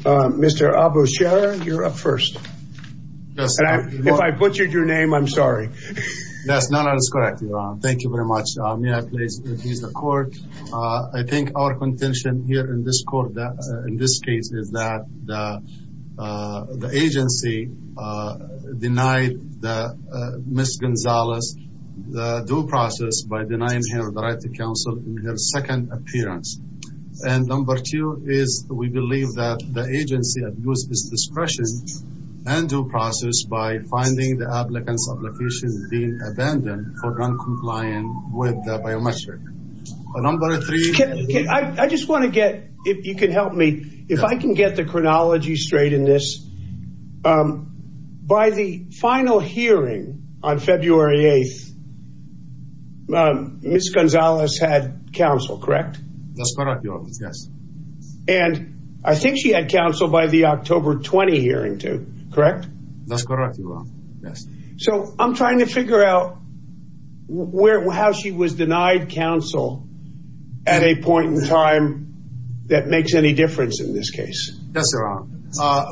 Mr. Abu Sharer you're up first. If I butchered your name, I'm sorry. That's not, that's correct, Your Honor. Thank you very much. May I please introduce the court? I think our contention here in this court, in this case, is that the agency denied Ms. Gonzalez the due process by denying her the right to counsel in her second appearance. And number two is we believe that the agency abused its discretion and due process by finding the applicant's application being abandoned for non-compliant with the biometric. Number three. I just want to get, if you can help me, if I can get the chronology straight in this. By the final hearing on February 8th, Ms. Gonzalez had counsel, correct? That's correct, Your Honor, yes. And I think she had counsel by the October 20 hearing too, correct? That's correct, Your Honor, yes. So I'm trying to figure out how she was denied counsel at a point in time that makes any difference in this case. Yes, Your Honor.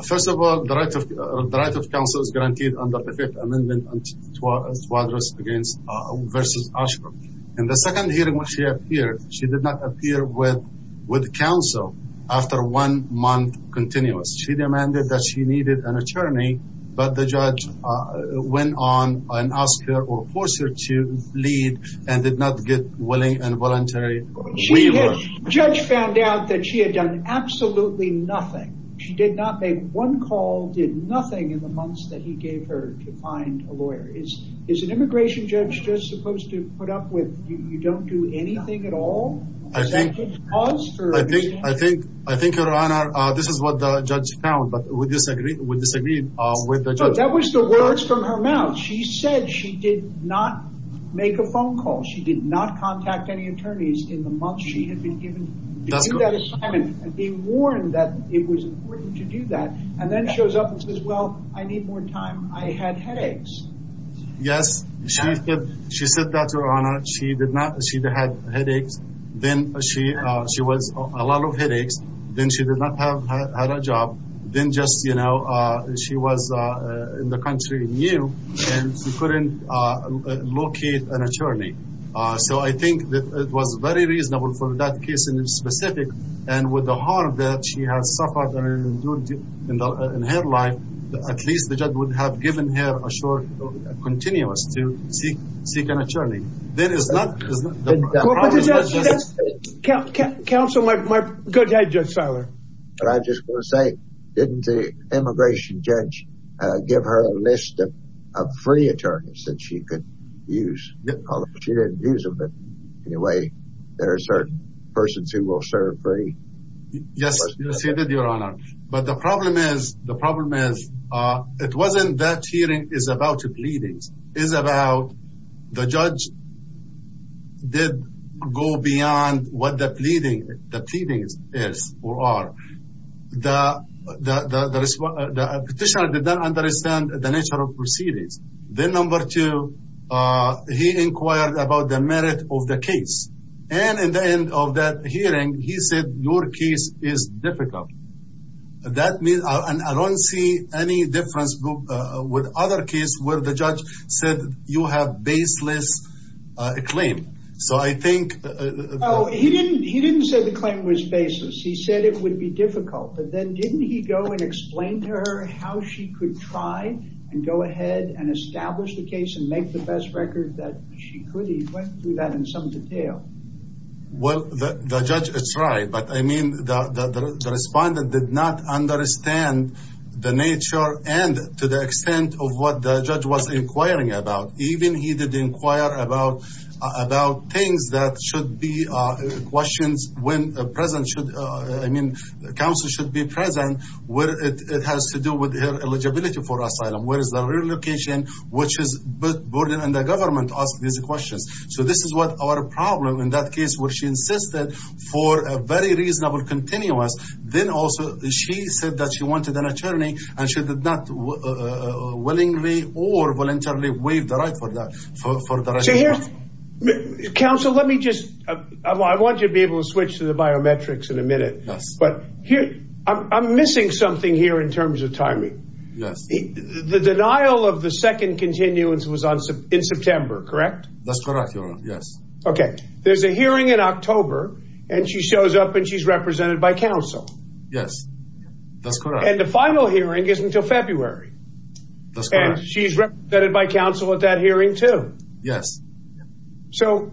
First of all, the right of counsel is guaranteed under the Fifth Amendment to address against versus OSHRA. In the second hearing when she appeared, she did not appear with counsel after one month continuous. She demanded that she needed an attorney, but the judge went on and asked her or forced her to leave and did not get willing and voluntary waiver. The judge found out that she had done absolutely nothing. She did not make one call, did nothing in the months that he gave her to find a lawyer. Is an immigration judge just supposed to put up with you don't do anything at all? I think, Your Honor, this is what the judge found, but we disagree with the judge. That was the words from her mouth. She said she did not make a phone call. She did not contact any attorneys in the months she had been given to do that assignment and be warned that it was important to do that and then shows up and says, well, I need more time. I had headaches. Yes, she said that, Your Honor. She did not. She had headaches. Then she was a lot of headaches. Then she did not have a job. Then just, you know, she was in the country and she couldn't locate an attorney. So I think that it was very reasonable for that case in specific and with the harm that she has suffered in her life, at least the judge would have given her a short continuous to seek an But I just want to say, didn't the immigration judge give her a list of free attorneys that she could use? She didn't use them. But anyway, there are certain persons who will serve free. Yes, Your Honor. But the problem is, the problem is, it wasn't that hearing is about the pleadings is about the judge did go beyond what the pleading is or are. The petitioner did not understand the nature of proceedings. Then number two, he inquired about the merit of the case. And in the end of that hearing, he said, your case is difficult. That means I don't see any difference with other cases where the judge said you have baseless claim. So I think. Oh, he didn't. He didn't say the claim was baseless. He said it would be difficult. But then didn't he go and explain to her how she could try and go ahead and establish the case and make the best record that she could? He went through that in some detail. Well, the judge tried, but I mean, the respondent did not understand the nature and to the extent of what the judge was inquiring about. Even he did inquire about about things that should be questions when a president should. I mean, the council should be present where it has to do with eligibility for asylum. Where is the relocation? Which is both border and the questions. So this is what our problem in that case where she insisted for a very reasonable continuous. Then also, she said that she wanted an attorney and she did not willingly or voluntarily waive the right for that. So here's counsel. Let me just I want to be able to switch to the biometrics in a minute. But I'm missing something here in terms of timing. The denial of the second continuance was in September, correct? That's correct. Yes. Okay. There's a hearing in October and she shows up and she's represented by counsel. Yes, that's correct. And the final hearing is until February. And she's represented by counsel at that hearing too. Yes. So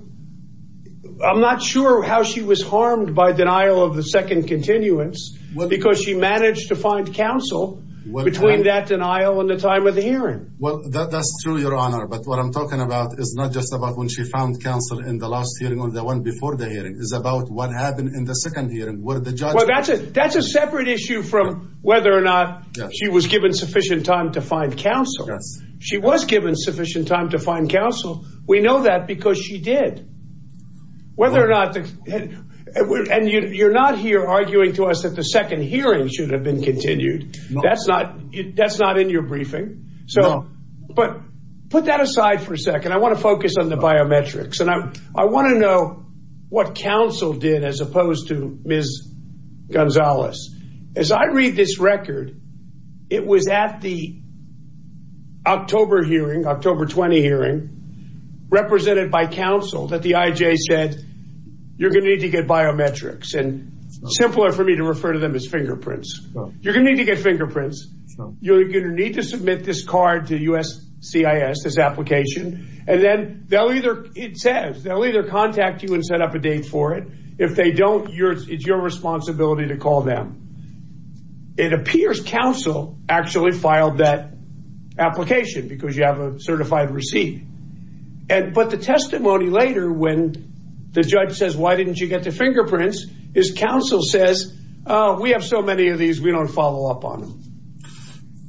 I'm not sure how she was harmed by denial of the second continuance because she managed to find counsel between that to your honor. But what I'm talking about is not just about when she found counsel in the last hearing or the one before the hearing is about what happened in the second hearing where the judge. Well, that's it. That's a separate issue from whether or not she was given sufficient time to find counsel. She was given sufficient time to find counsel. We know that because she did. Whether or not. And you're not here arguing to us that the second hearing should have been continued. That's not in your briefing. No. But put that aside for a second. I want to focus on the biometrics. And I want to know what counsel did as opposed to Ms. Gonzalez. As I read this record, it was at the October hearing, October 20 hearing, represented by counsel that the IJ said you're going to need to get biometrics. And simpler for me to refer to them as fingerprints. You're going to need to get fingerprints. You're going to need to submit this card to USCIS, this application. And then they'll either it says they'll either contact you and set up a date for it. If they don't, you're it's your responsibility to call them. It appears counsel actually filed that application because you have a certified receipt. But the testimony later when the judge says, why didn't you get the fingerprints? His counsel says, we have so many of these, we don't follow up on them.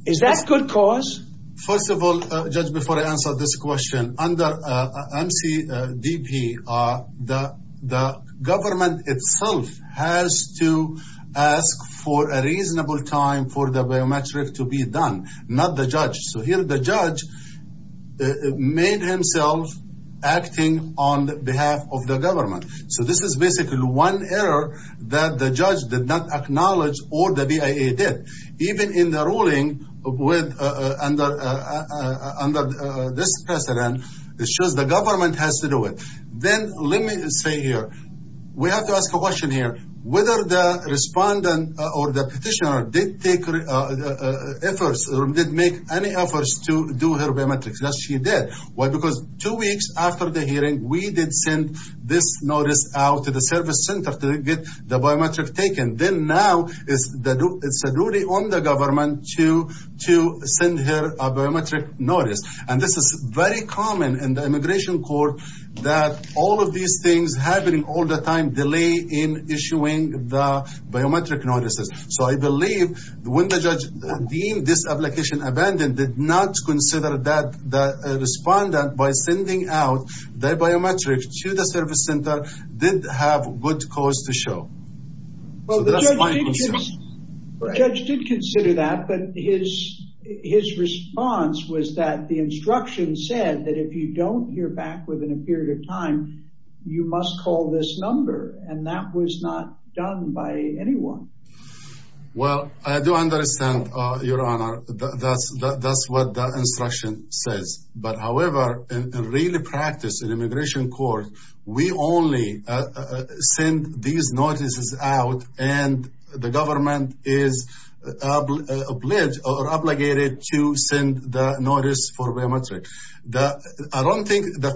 Is that good cause? First of all, judge, before I answer this question under MCDP, the government itself has to ask for a reasonable time for the biometric to be done, not the judge. So here the judge made himself acting on behalf of the government. So this is basically one error that the judge did not acknowledge or the BIA did. Even in the ruling under this precedent, it shows the government has to do it. Then let me say here, we have to ask a any efforts to do her biometrics. Yes, she did. Why? Because two weeks after the hearing, we did send this notice out to the service center to get the biometric taken. Then now it's a duty on the government to send her a biometric notice. And this is very common in the immigration court that all of these things happening all the time delay in issuing the biometric notices. So I did not consider that the respondent by sending out their biometric to the service center did have good cause to show. Well, the judge did consider that, but his response was that the instruction said that if you don't hear back within a period of time, you must call this number and that was not done by anyone. Well, I do understand your honor. That's what the instruction says. But however, in really practice in immigration court, we only send these notices out and the government is obligated to send the notice for biometric. I don't think the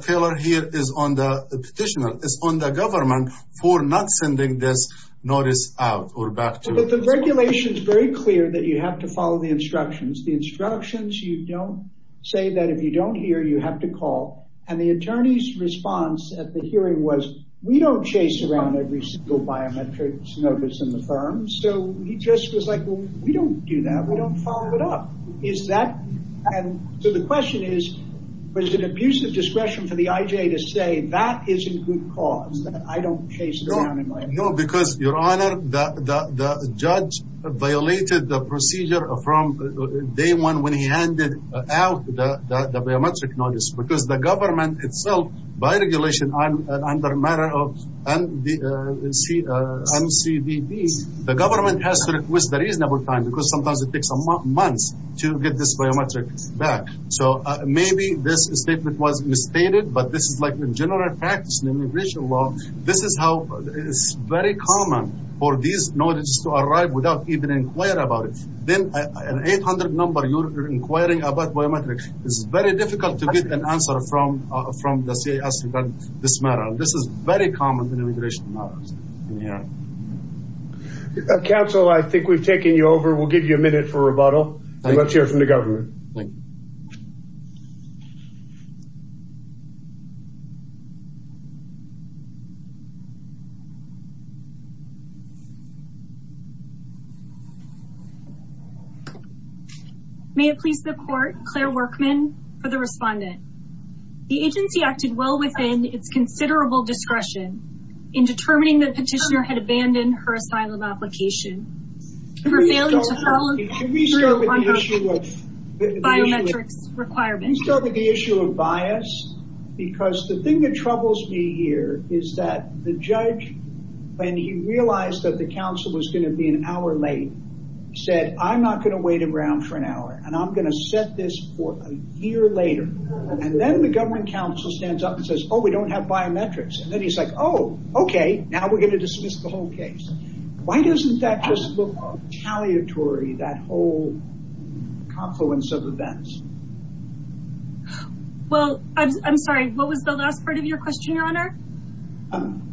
petitioner is on the government for not sending this notice out or back to the regulations. Very clear that you have to follow the instructions, the instructions. You don't say that if you don't hear, you have to call. And the attorney's response at the hearing was we don't chase around every single biometrics notice in the firm. So he just was like, we don't do that. We don't follow it up. Is that? And so the question is, was it abusive discretion for the IJ to say that isn't good cause that I don't chase around? No, because your honor, the judge violated the procedure from day one when he handed out the biometric notice because the government itself, by regulation and under matter of NCBD, the government has to request the reasonable time because sometimes it takes months to get this biometric back. So maybe this statement was misstated, but this is like the general practice in immigration law. This is how it's very common for these notices to arrive without even inquiring about it. Then an 800 number you're inquiring about biometrics, it's very difficult to get an answer from the CIS regarding this matter. This is very common in immigration matters. Counsel, I think we've taken you over. We'll give you a minute for rebuttal and let's hear from the government. May it please the court, Claire Workman for the respondent. The agency acted well within its considerable discretion in determining that petitioner had abandoned her asylum application. Can we start with the issue of bias? Because the thing that troubles me here is that the judge, when he realized that the counsel was going to be an hour late, said, I'm not going to wait around for an hour and I'm going to set this for a year later. And then the government counsel stands up and says, oh, we don't have biometrics. And then he's like, oh, okay. Now we're going to just look retaliatory, that whole confluence of events. Well, I'm sorry. What was the last part of your question, your honor?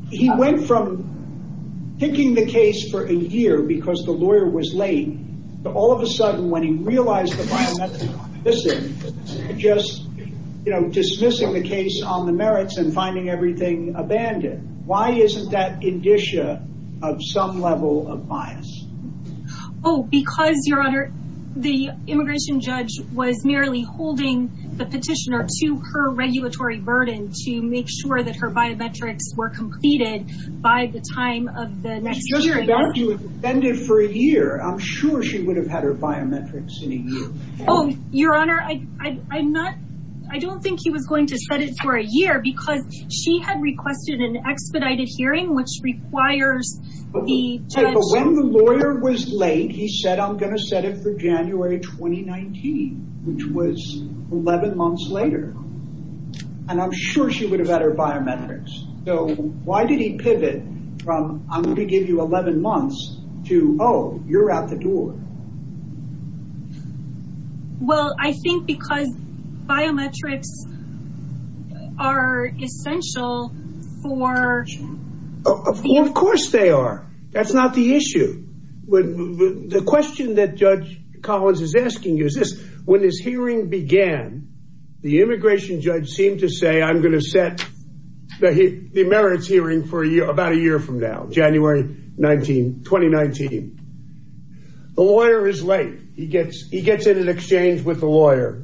He went from picking the case for a year because the lawyer was late to all of a sudden when he realized the biometrics were missing, just dismissing the case on the merits and finding everything abandoned. Why isn't that indicia of some level of bias? Oh, because your honor, the immigration judge was merely holding the petitioner to her regulatory burden to make sure that her biometrics were completed by the time of the next hearing. I'm sure she would have had her biometrics in a year. Oh, your honor, I don't think he was going to set it for a year because she had requested an expedited hearing, which requires the judge. But when the lawyer was late, he said, I'm going to set it for January 2019, which was 11 months later. And I'm sure she would have had her biometrics. So why did he pivot from, I'm going to give you 11 months to, oh, you're out the door. Well, I think because biometrics are essential for... Of course they are. That's not the issue. The question that Judge Collins is asking you is this, when this hearing began, the immigration judge seemed to say, I'm going to set the merits hearing for about a year from now, January 2019. The lawyer is late. He gets in an exchange with the lawyer.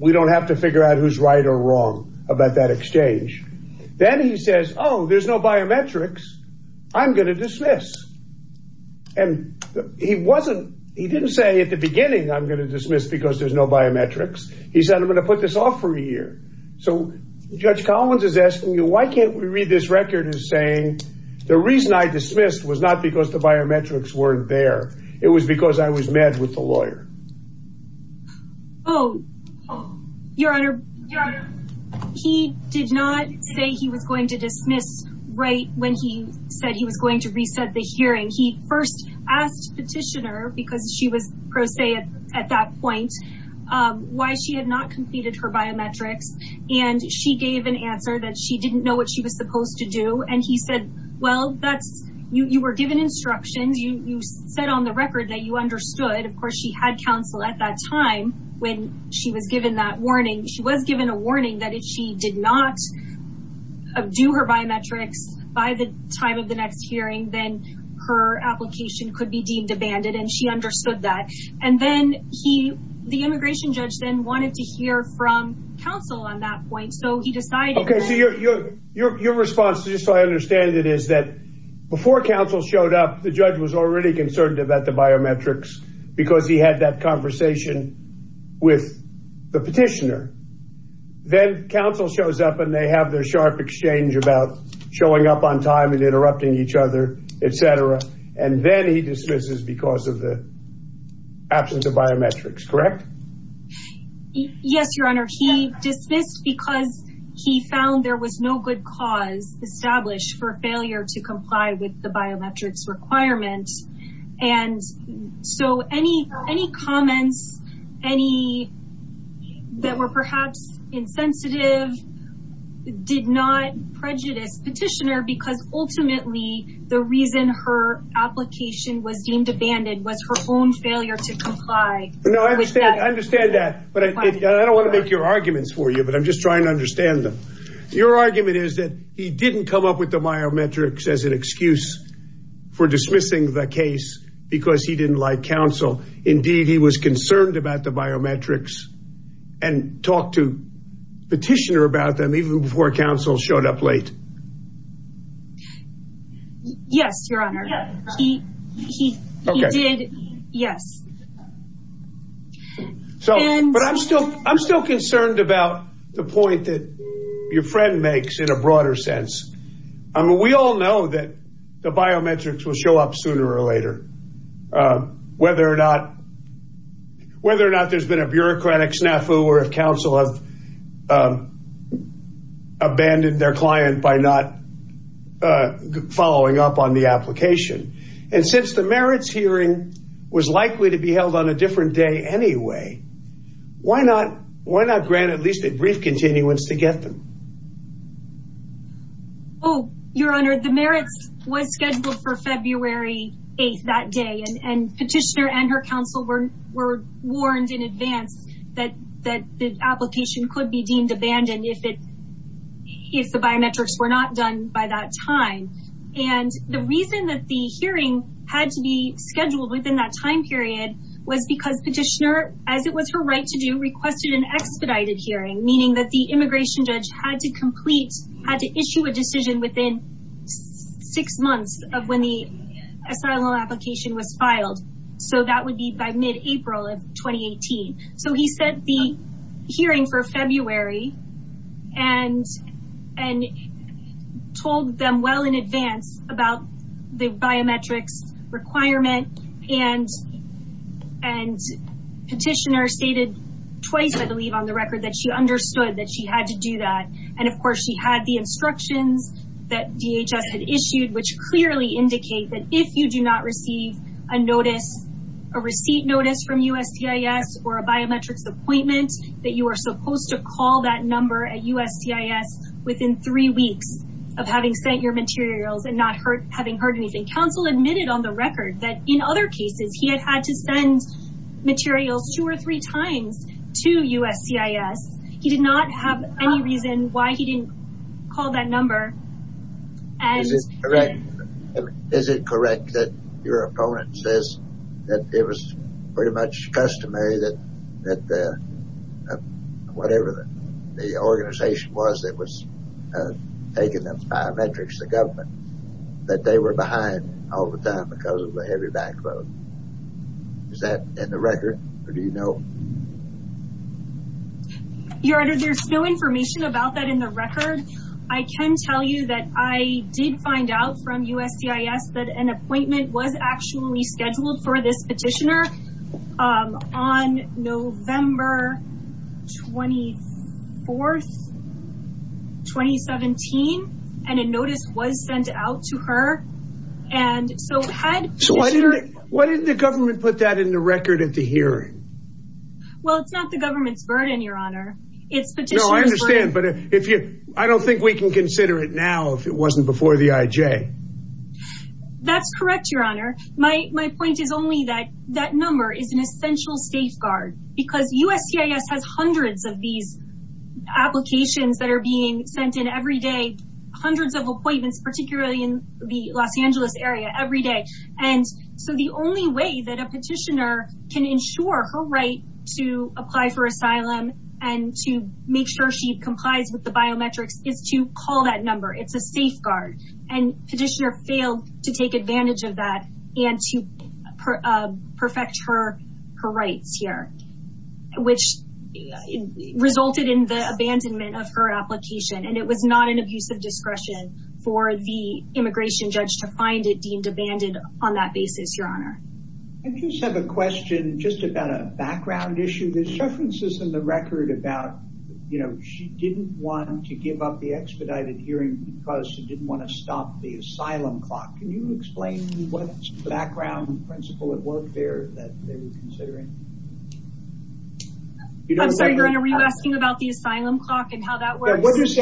We don't have to figure out who's right or wrong about that exchange. Then he says, oh, there's no biometrics. I'm going to dismiss. And he didn't say at the beginning, I'm going to dismiss because there's no biometrics. He said, I'm going to put this off for a year. So Judge Collins is asking you, why can't we read this record as saying, the reason I dismissed was not because the biometrics weren't there. It was because I was mad with the lawyer. Oh, Your Honor, he did not say he was going to dismiss right when he said he was going to reset the hearing. He first asked petitioner because she was pro se at that point, why she had not completed her biometrics. And she gave an answer that she didn't know what she was supposed to do. And he said, well, you were given instructions. You said on the record that you understood. Of course, she had counsel at that time when she was given that warning. She was given a warning that if she did not do her biometrics by the time of the next hearing, then her application could be demanded. And she understood that. And then he, the immigration judge then wanted to hear from counsel on that point. So he decided. Your response, just so I understand it, is that before counsel showed up, the judge was already concerned about the biometrics because he had that conversation with the petitioner. Then counsel shows up and they have their sharp exchange about showing up on time and interrupting each other, etc. And then he dismisses because of the absence of biometrics, correct? Yes, your honor. He dismissed because he found there was no good cause established for failure to comply with the biometrics requirements. And so any comments, any that were perhaps insensitive did not prejudice petitioner because ultimately the reason her application was deemed abandoned was her own failure to comply. No, I understand. I understand that. But I don't want to make your arguments for you, but I'm just trying to understand them. Your argument is that he didn't come up with the biometrics as an excuse for dismissing the case because he didn't like counsel. Indeed, he was concerned about the biometrics and talked to petitioner about them even before counsel showed up late. Yes, your honor. He did. Yes. I'm still concerned about the point that your friend makes in a broader sense. We all know that the biometrics will show up sooner or later, whether or not there's been a bureaucratic snafu or if counsel has abandoned their client by not following up on the application. And since the merits hearing was likely to be held on a different day anyway, why not grant at least a brief continuance to get them? Oh, your honor, the merits was scheduled for February 8th that day and petitioner and her counsel were warned in advance that the application could be deemed abandoned if the biometrics were not done by that time. And the reason that the hearing had to be scheduled within that time period was because petitioner, as it was her right to do, requested an expedited hearing, meaning that the immigration judge had to complete, had to issue a decision within six months of when the asylum application was filed. So that would be by mid-April of 2018. So he said the hearing for February and told them well in advance about the biometrics requirement and petitioner stated twice, I believe, on the record that she understood that she had to do that. And of course she had the instructions that DHS had issued, which clearly indicate that if you do not receive a notice, a receipt notice from USTIS or a biometrics appointment that you are supposed to call that number at USTIS within three weeks of having sent your materials and not having heard anything. Counsel admitted on the record that in other cases he had had to send materials two or three times to USCIS. He did not have any reason why he didn't call that number. Is it correct that your opponent says that it was pretty much customary that the, whatever the organization was that was taking those biometrics, the government, that they were behind all the time because of the heavy backlog? Is that in the record or do you know? Your Honor, there's no information about that in the record. I can tell you that I did find out from USCIS that an appointment was actually scheduled for this petitioner on November 24th, 2017, and a notice was sent out to her. And so why didn't the government put that in the record at the hearing? Well, it's not the government's burden, Your Honor. It's petitioner's burden. No, I understand, but if you, I don't think we can consider it now if it wasn't before the IJ. That's correct, Your Honor. My point is only that that number is an essential safeguard because USCIS has hundreds of these applications that are being sent in every day, hundreds of appointments, particularly in the Los Angeles area every day. And so the only way that a petitioner can ensure her right to apply for asylum and to make sure she complies with the biometrics is to call that number. It's a safeguard. And petitioner failed to take advantage of that and to perfect her rights here, which resulted in the abandonment of her application. And it was not an abuse of discretion for the immigration judge to find it deemed abandoned on that basis, Your Honor. I just have a question just about a background issue. There's references in the expedited hearing because they didn't want to stop the asylum clock. Can you explain what background principle at work there that they were considering? I'm sorry, Your Honor, are you asking about the asylum clock and how that works? What does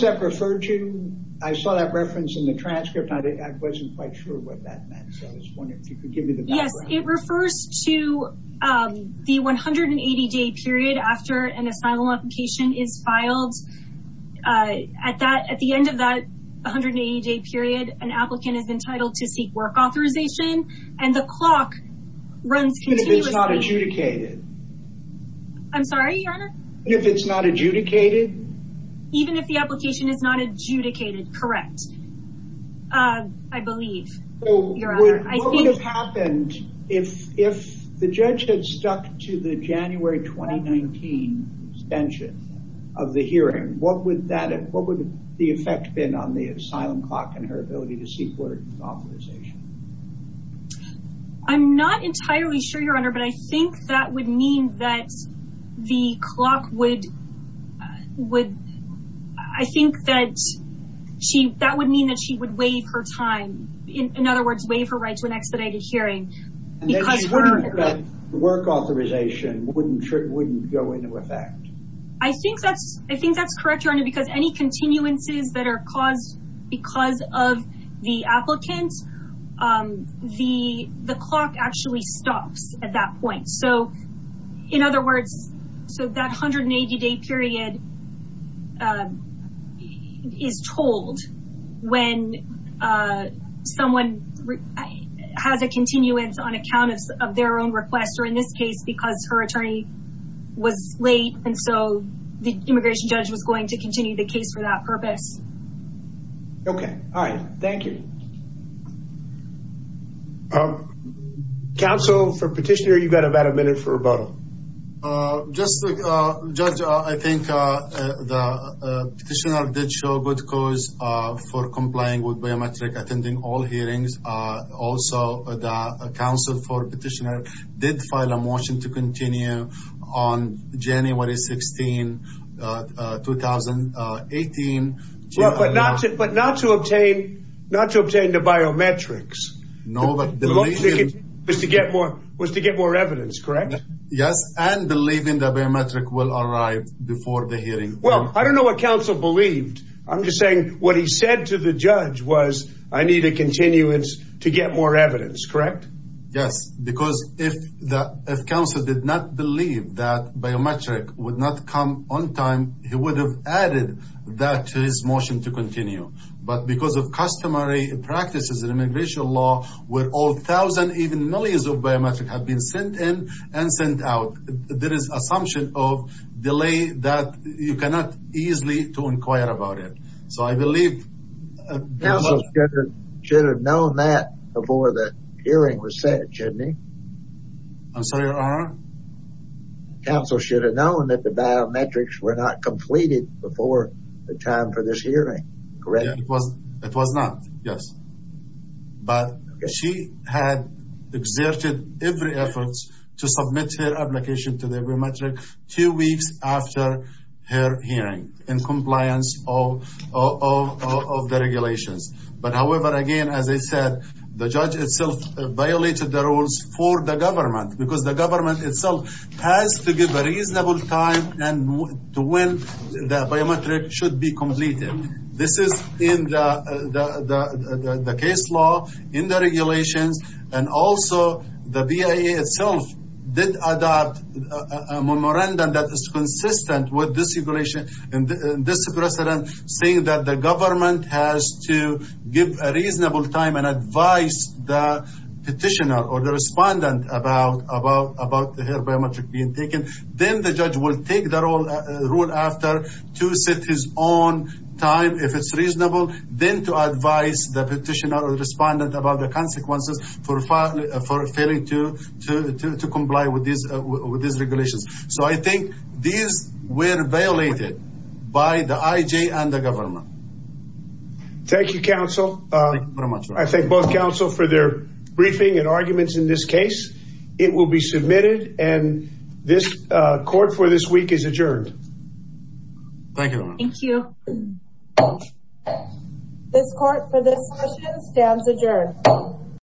that refer to? I saw that reference in the transcript. I wasn't quite sure what that meant. So I was wondering if you could give me the background. Yes, it refers to the 180-day period after an asylum application is filed. At the end of that 180-day period, an applicant is entitled to seek work authorization, and the clock runs continuously. And if it's not adjudicated? I'm sorry, Your Honor? And if it's not adjudicated? Even if the application is not adjudicated, correct, I believe, Your Honor. What would have happened if the judge had stuck to the January 2019 extension of the hearing? What would the effect been on the asylum clock and her ability to seek work authorization? I'm not entirely sure, Your Honor, but I think that would mean that the clock would, would, I think that she, that would mean that she would waive her time. In other words, waive her right to an expedited hearing. And that work authorization wouldn't go into effect? I think that's, I think that's correct, Your Honor, because any continuances that are caused because of the applicant, the clock actually stops at that point. So, in other words, so that 180-day period is told when someone has a continuance on account of their own request, or in this case, because her attorney was late, and so the immigration judge was going to continue the case for that purpose. Okay. All right. Thank you. Counsel, for petitioner, you've got about a minute for rebuttal. Just to, Judge, I think the petitioner did show good cause for complying with biometric, attending all hearings. Also, the counsel for petitioner did file a motion to continue on January 16, 2018. But not to, but not to obtain, not to obtain the biometrics. No, but the... Was to get more, was to get more evidence, correct? Yes, and believing the biometric will arrive before the hearing. Well, I don't know what counsel believed. I'm just saying what he said to the judge was, I need a continuance to get more evidence, correct? Yes, because if the, if counsel did not believe that biometric would not come on time, he would have added that to his motion to continue. But because of customary practices and immigration law, where all thousand, even millions of biometric have been sent in and sent out, there is assumption of delay that you cannot easily to inquire about it. So I believe... Counsel should have known that before the hearing was set, shouldn't he? I'm sorry, your honor? Counsel should have known that the biometrics were not completed before the time for this hearing, correct? It was not, yes. But she had exerted every effort to submit her application to the biometric two weeks after her hearing, in compliance of the regulations. But however, again, as I said, the judge itself violated the rules for the government, because the government itself has to give a reasonable time to when the biometric should be completed. This is in the case law, in the regulations, and also the BIA itself did adopt a memorandum that is consistent with this regulation and this precedent, saying that the government has to give a reasonable time and advise the petitioner or the respondent about the biometric being taken. Then the judge will take the rule after to set his own time, if it's reasonable, then to advise the petitioner or the respondent about the consequences for failing to comply with these regulations. So I think these were violated by the IJ and the government. Thank you, counsel. I thank both counsel for their briefing and arguments in this case. It will be submitted and this court for this week is adjourned. Thank you. Thank you. This court for this session stands adjourned.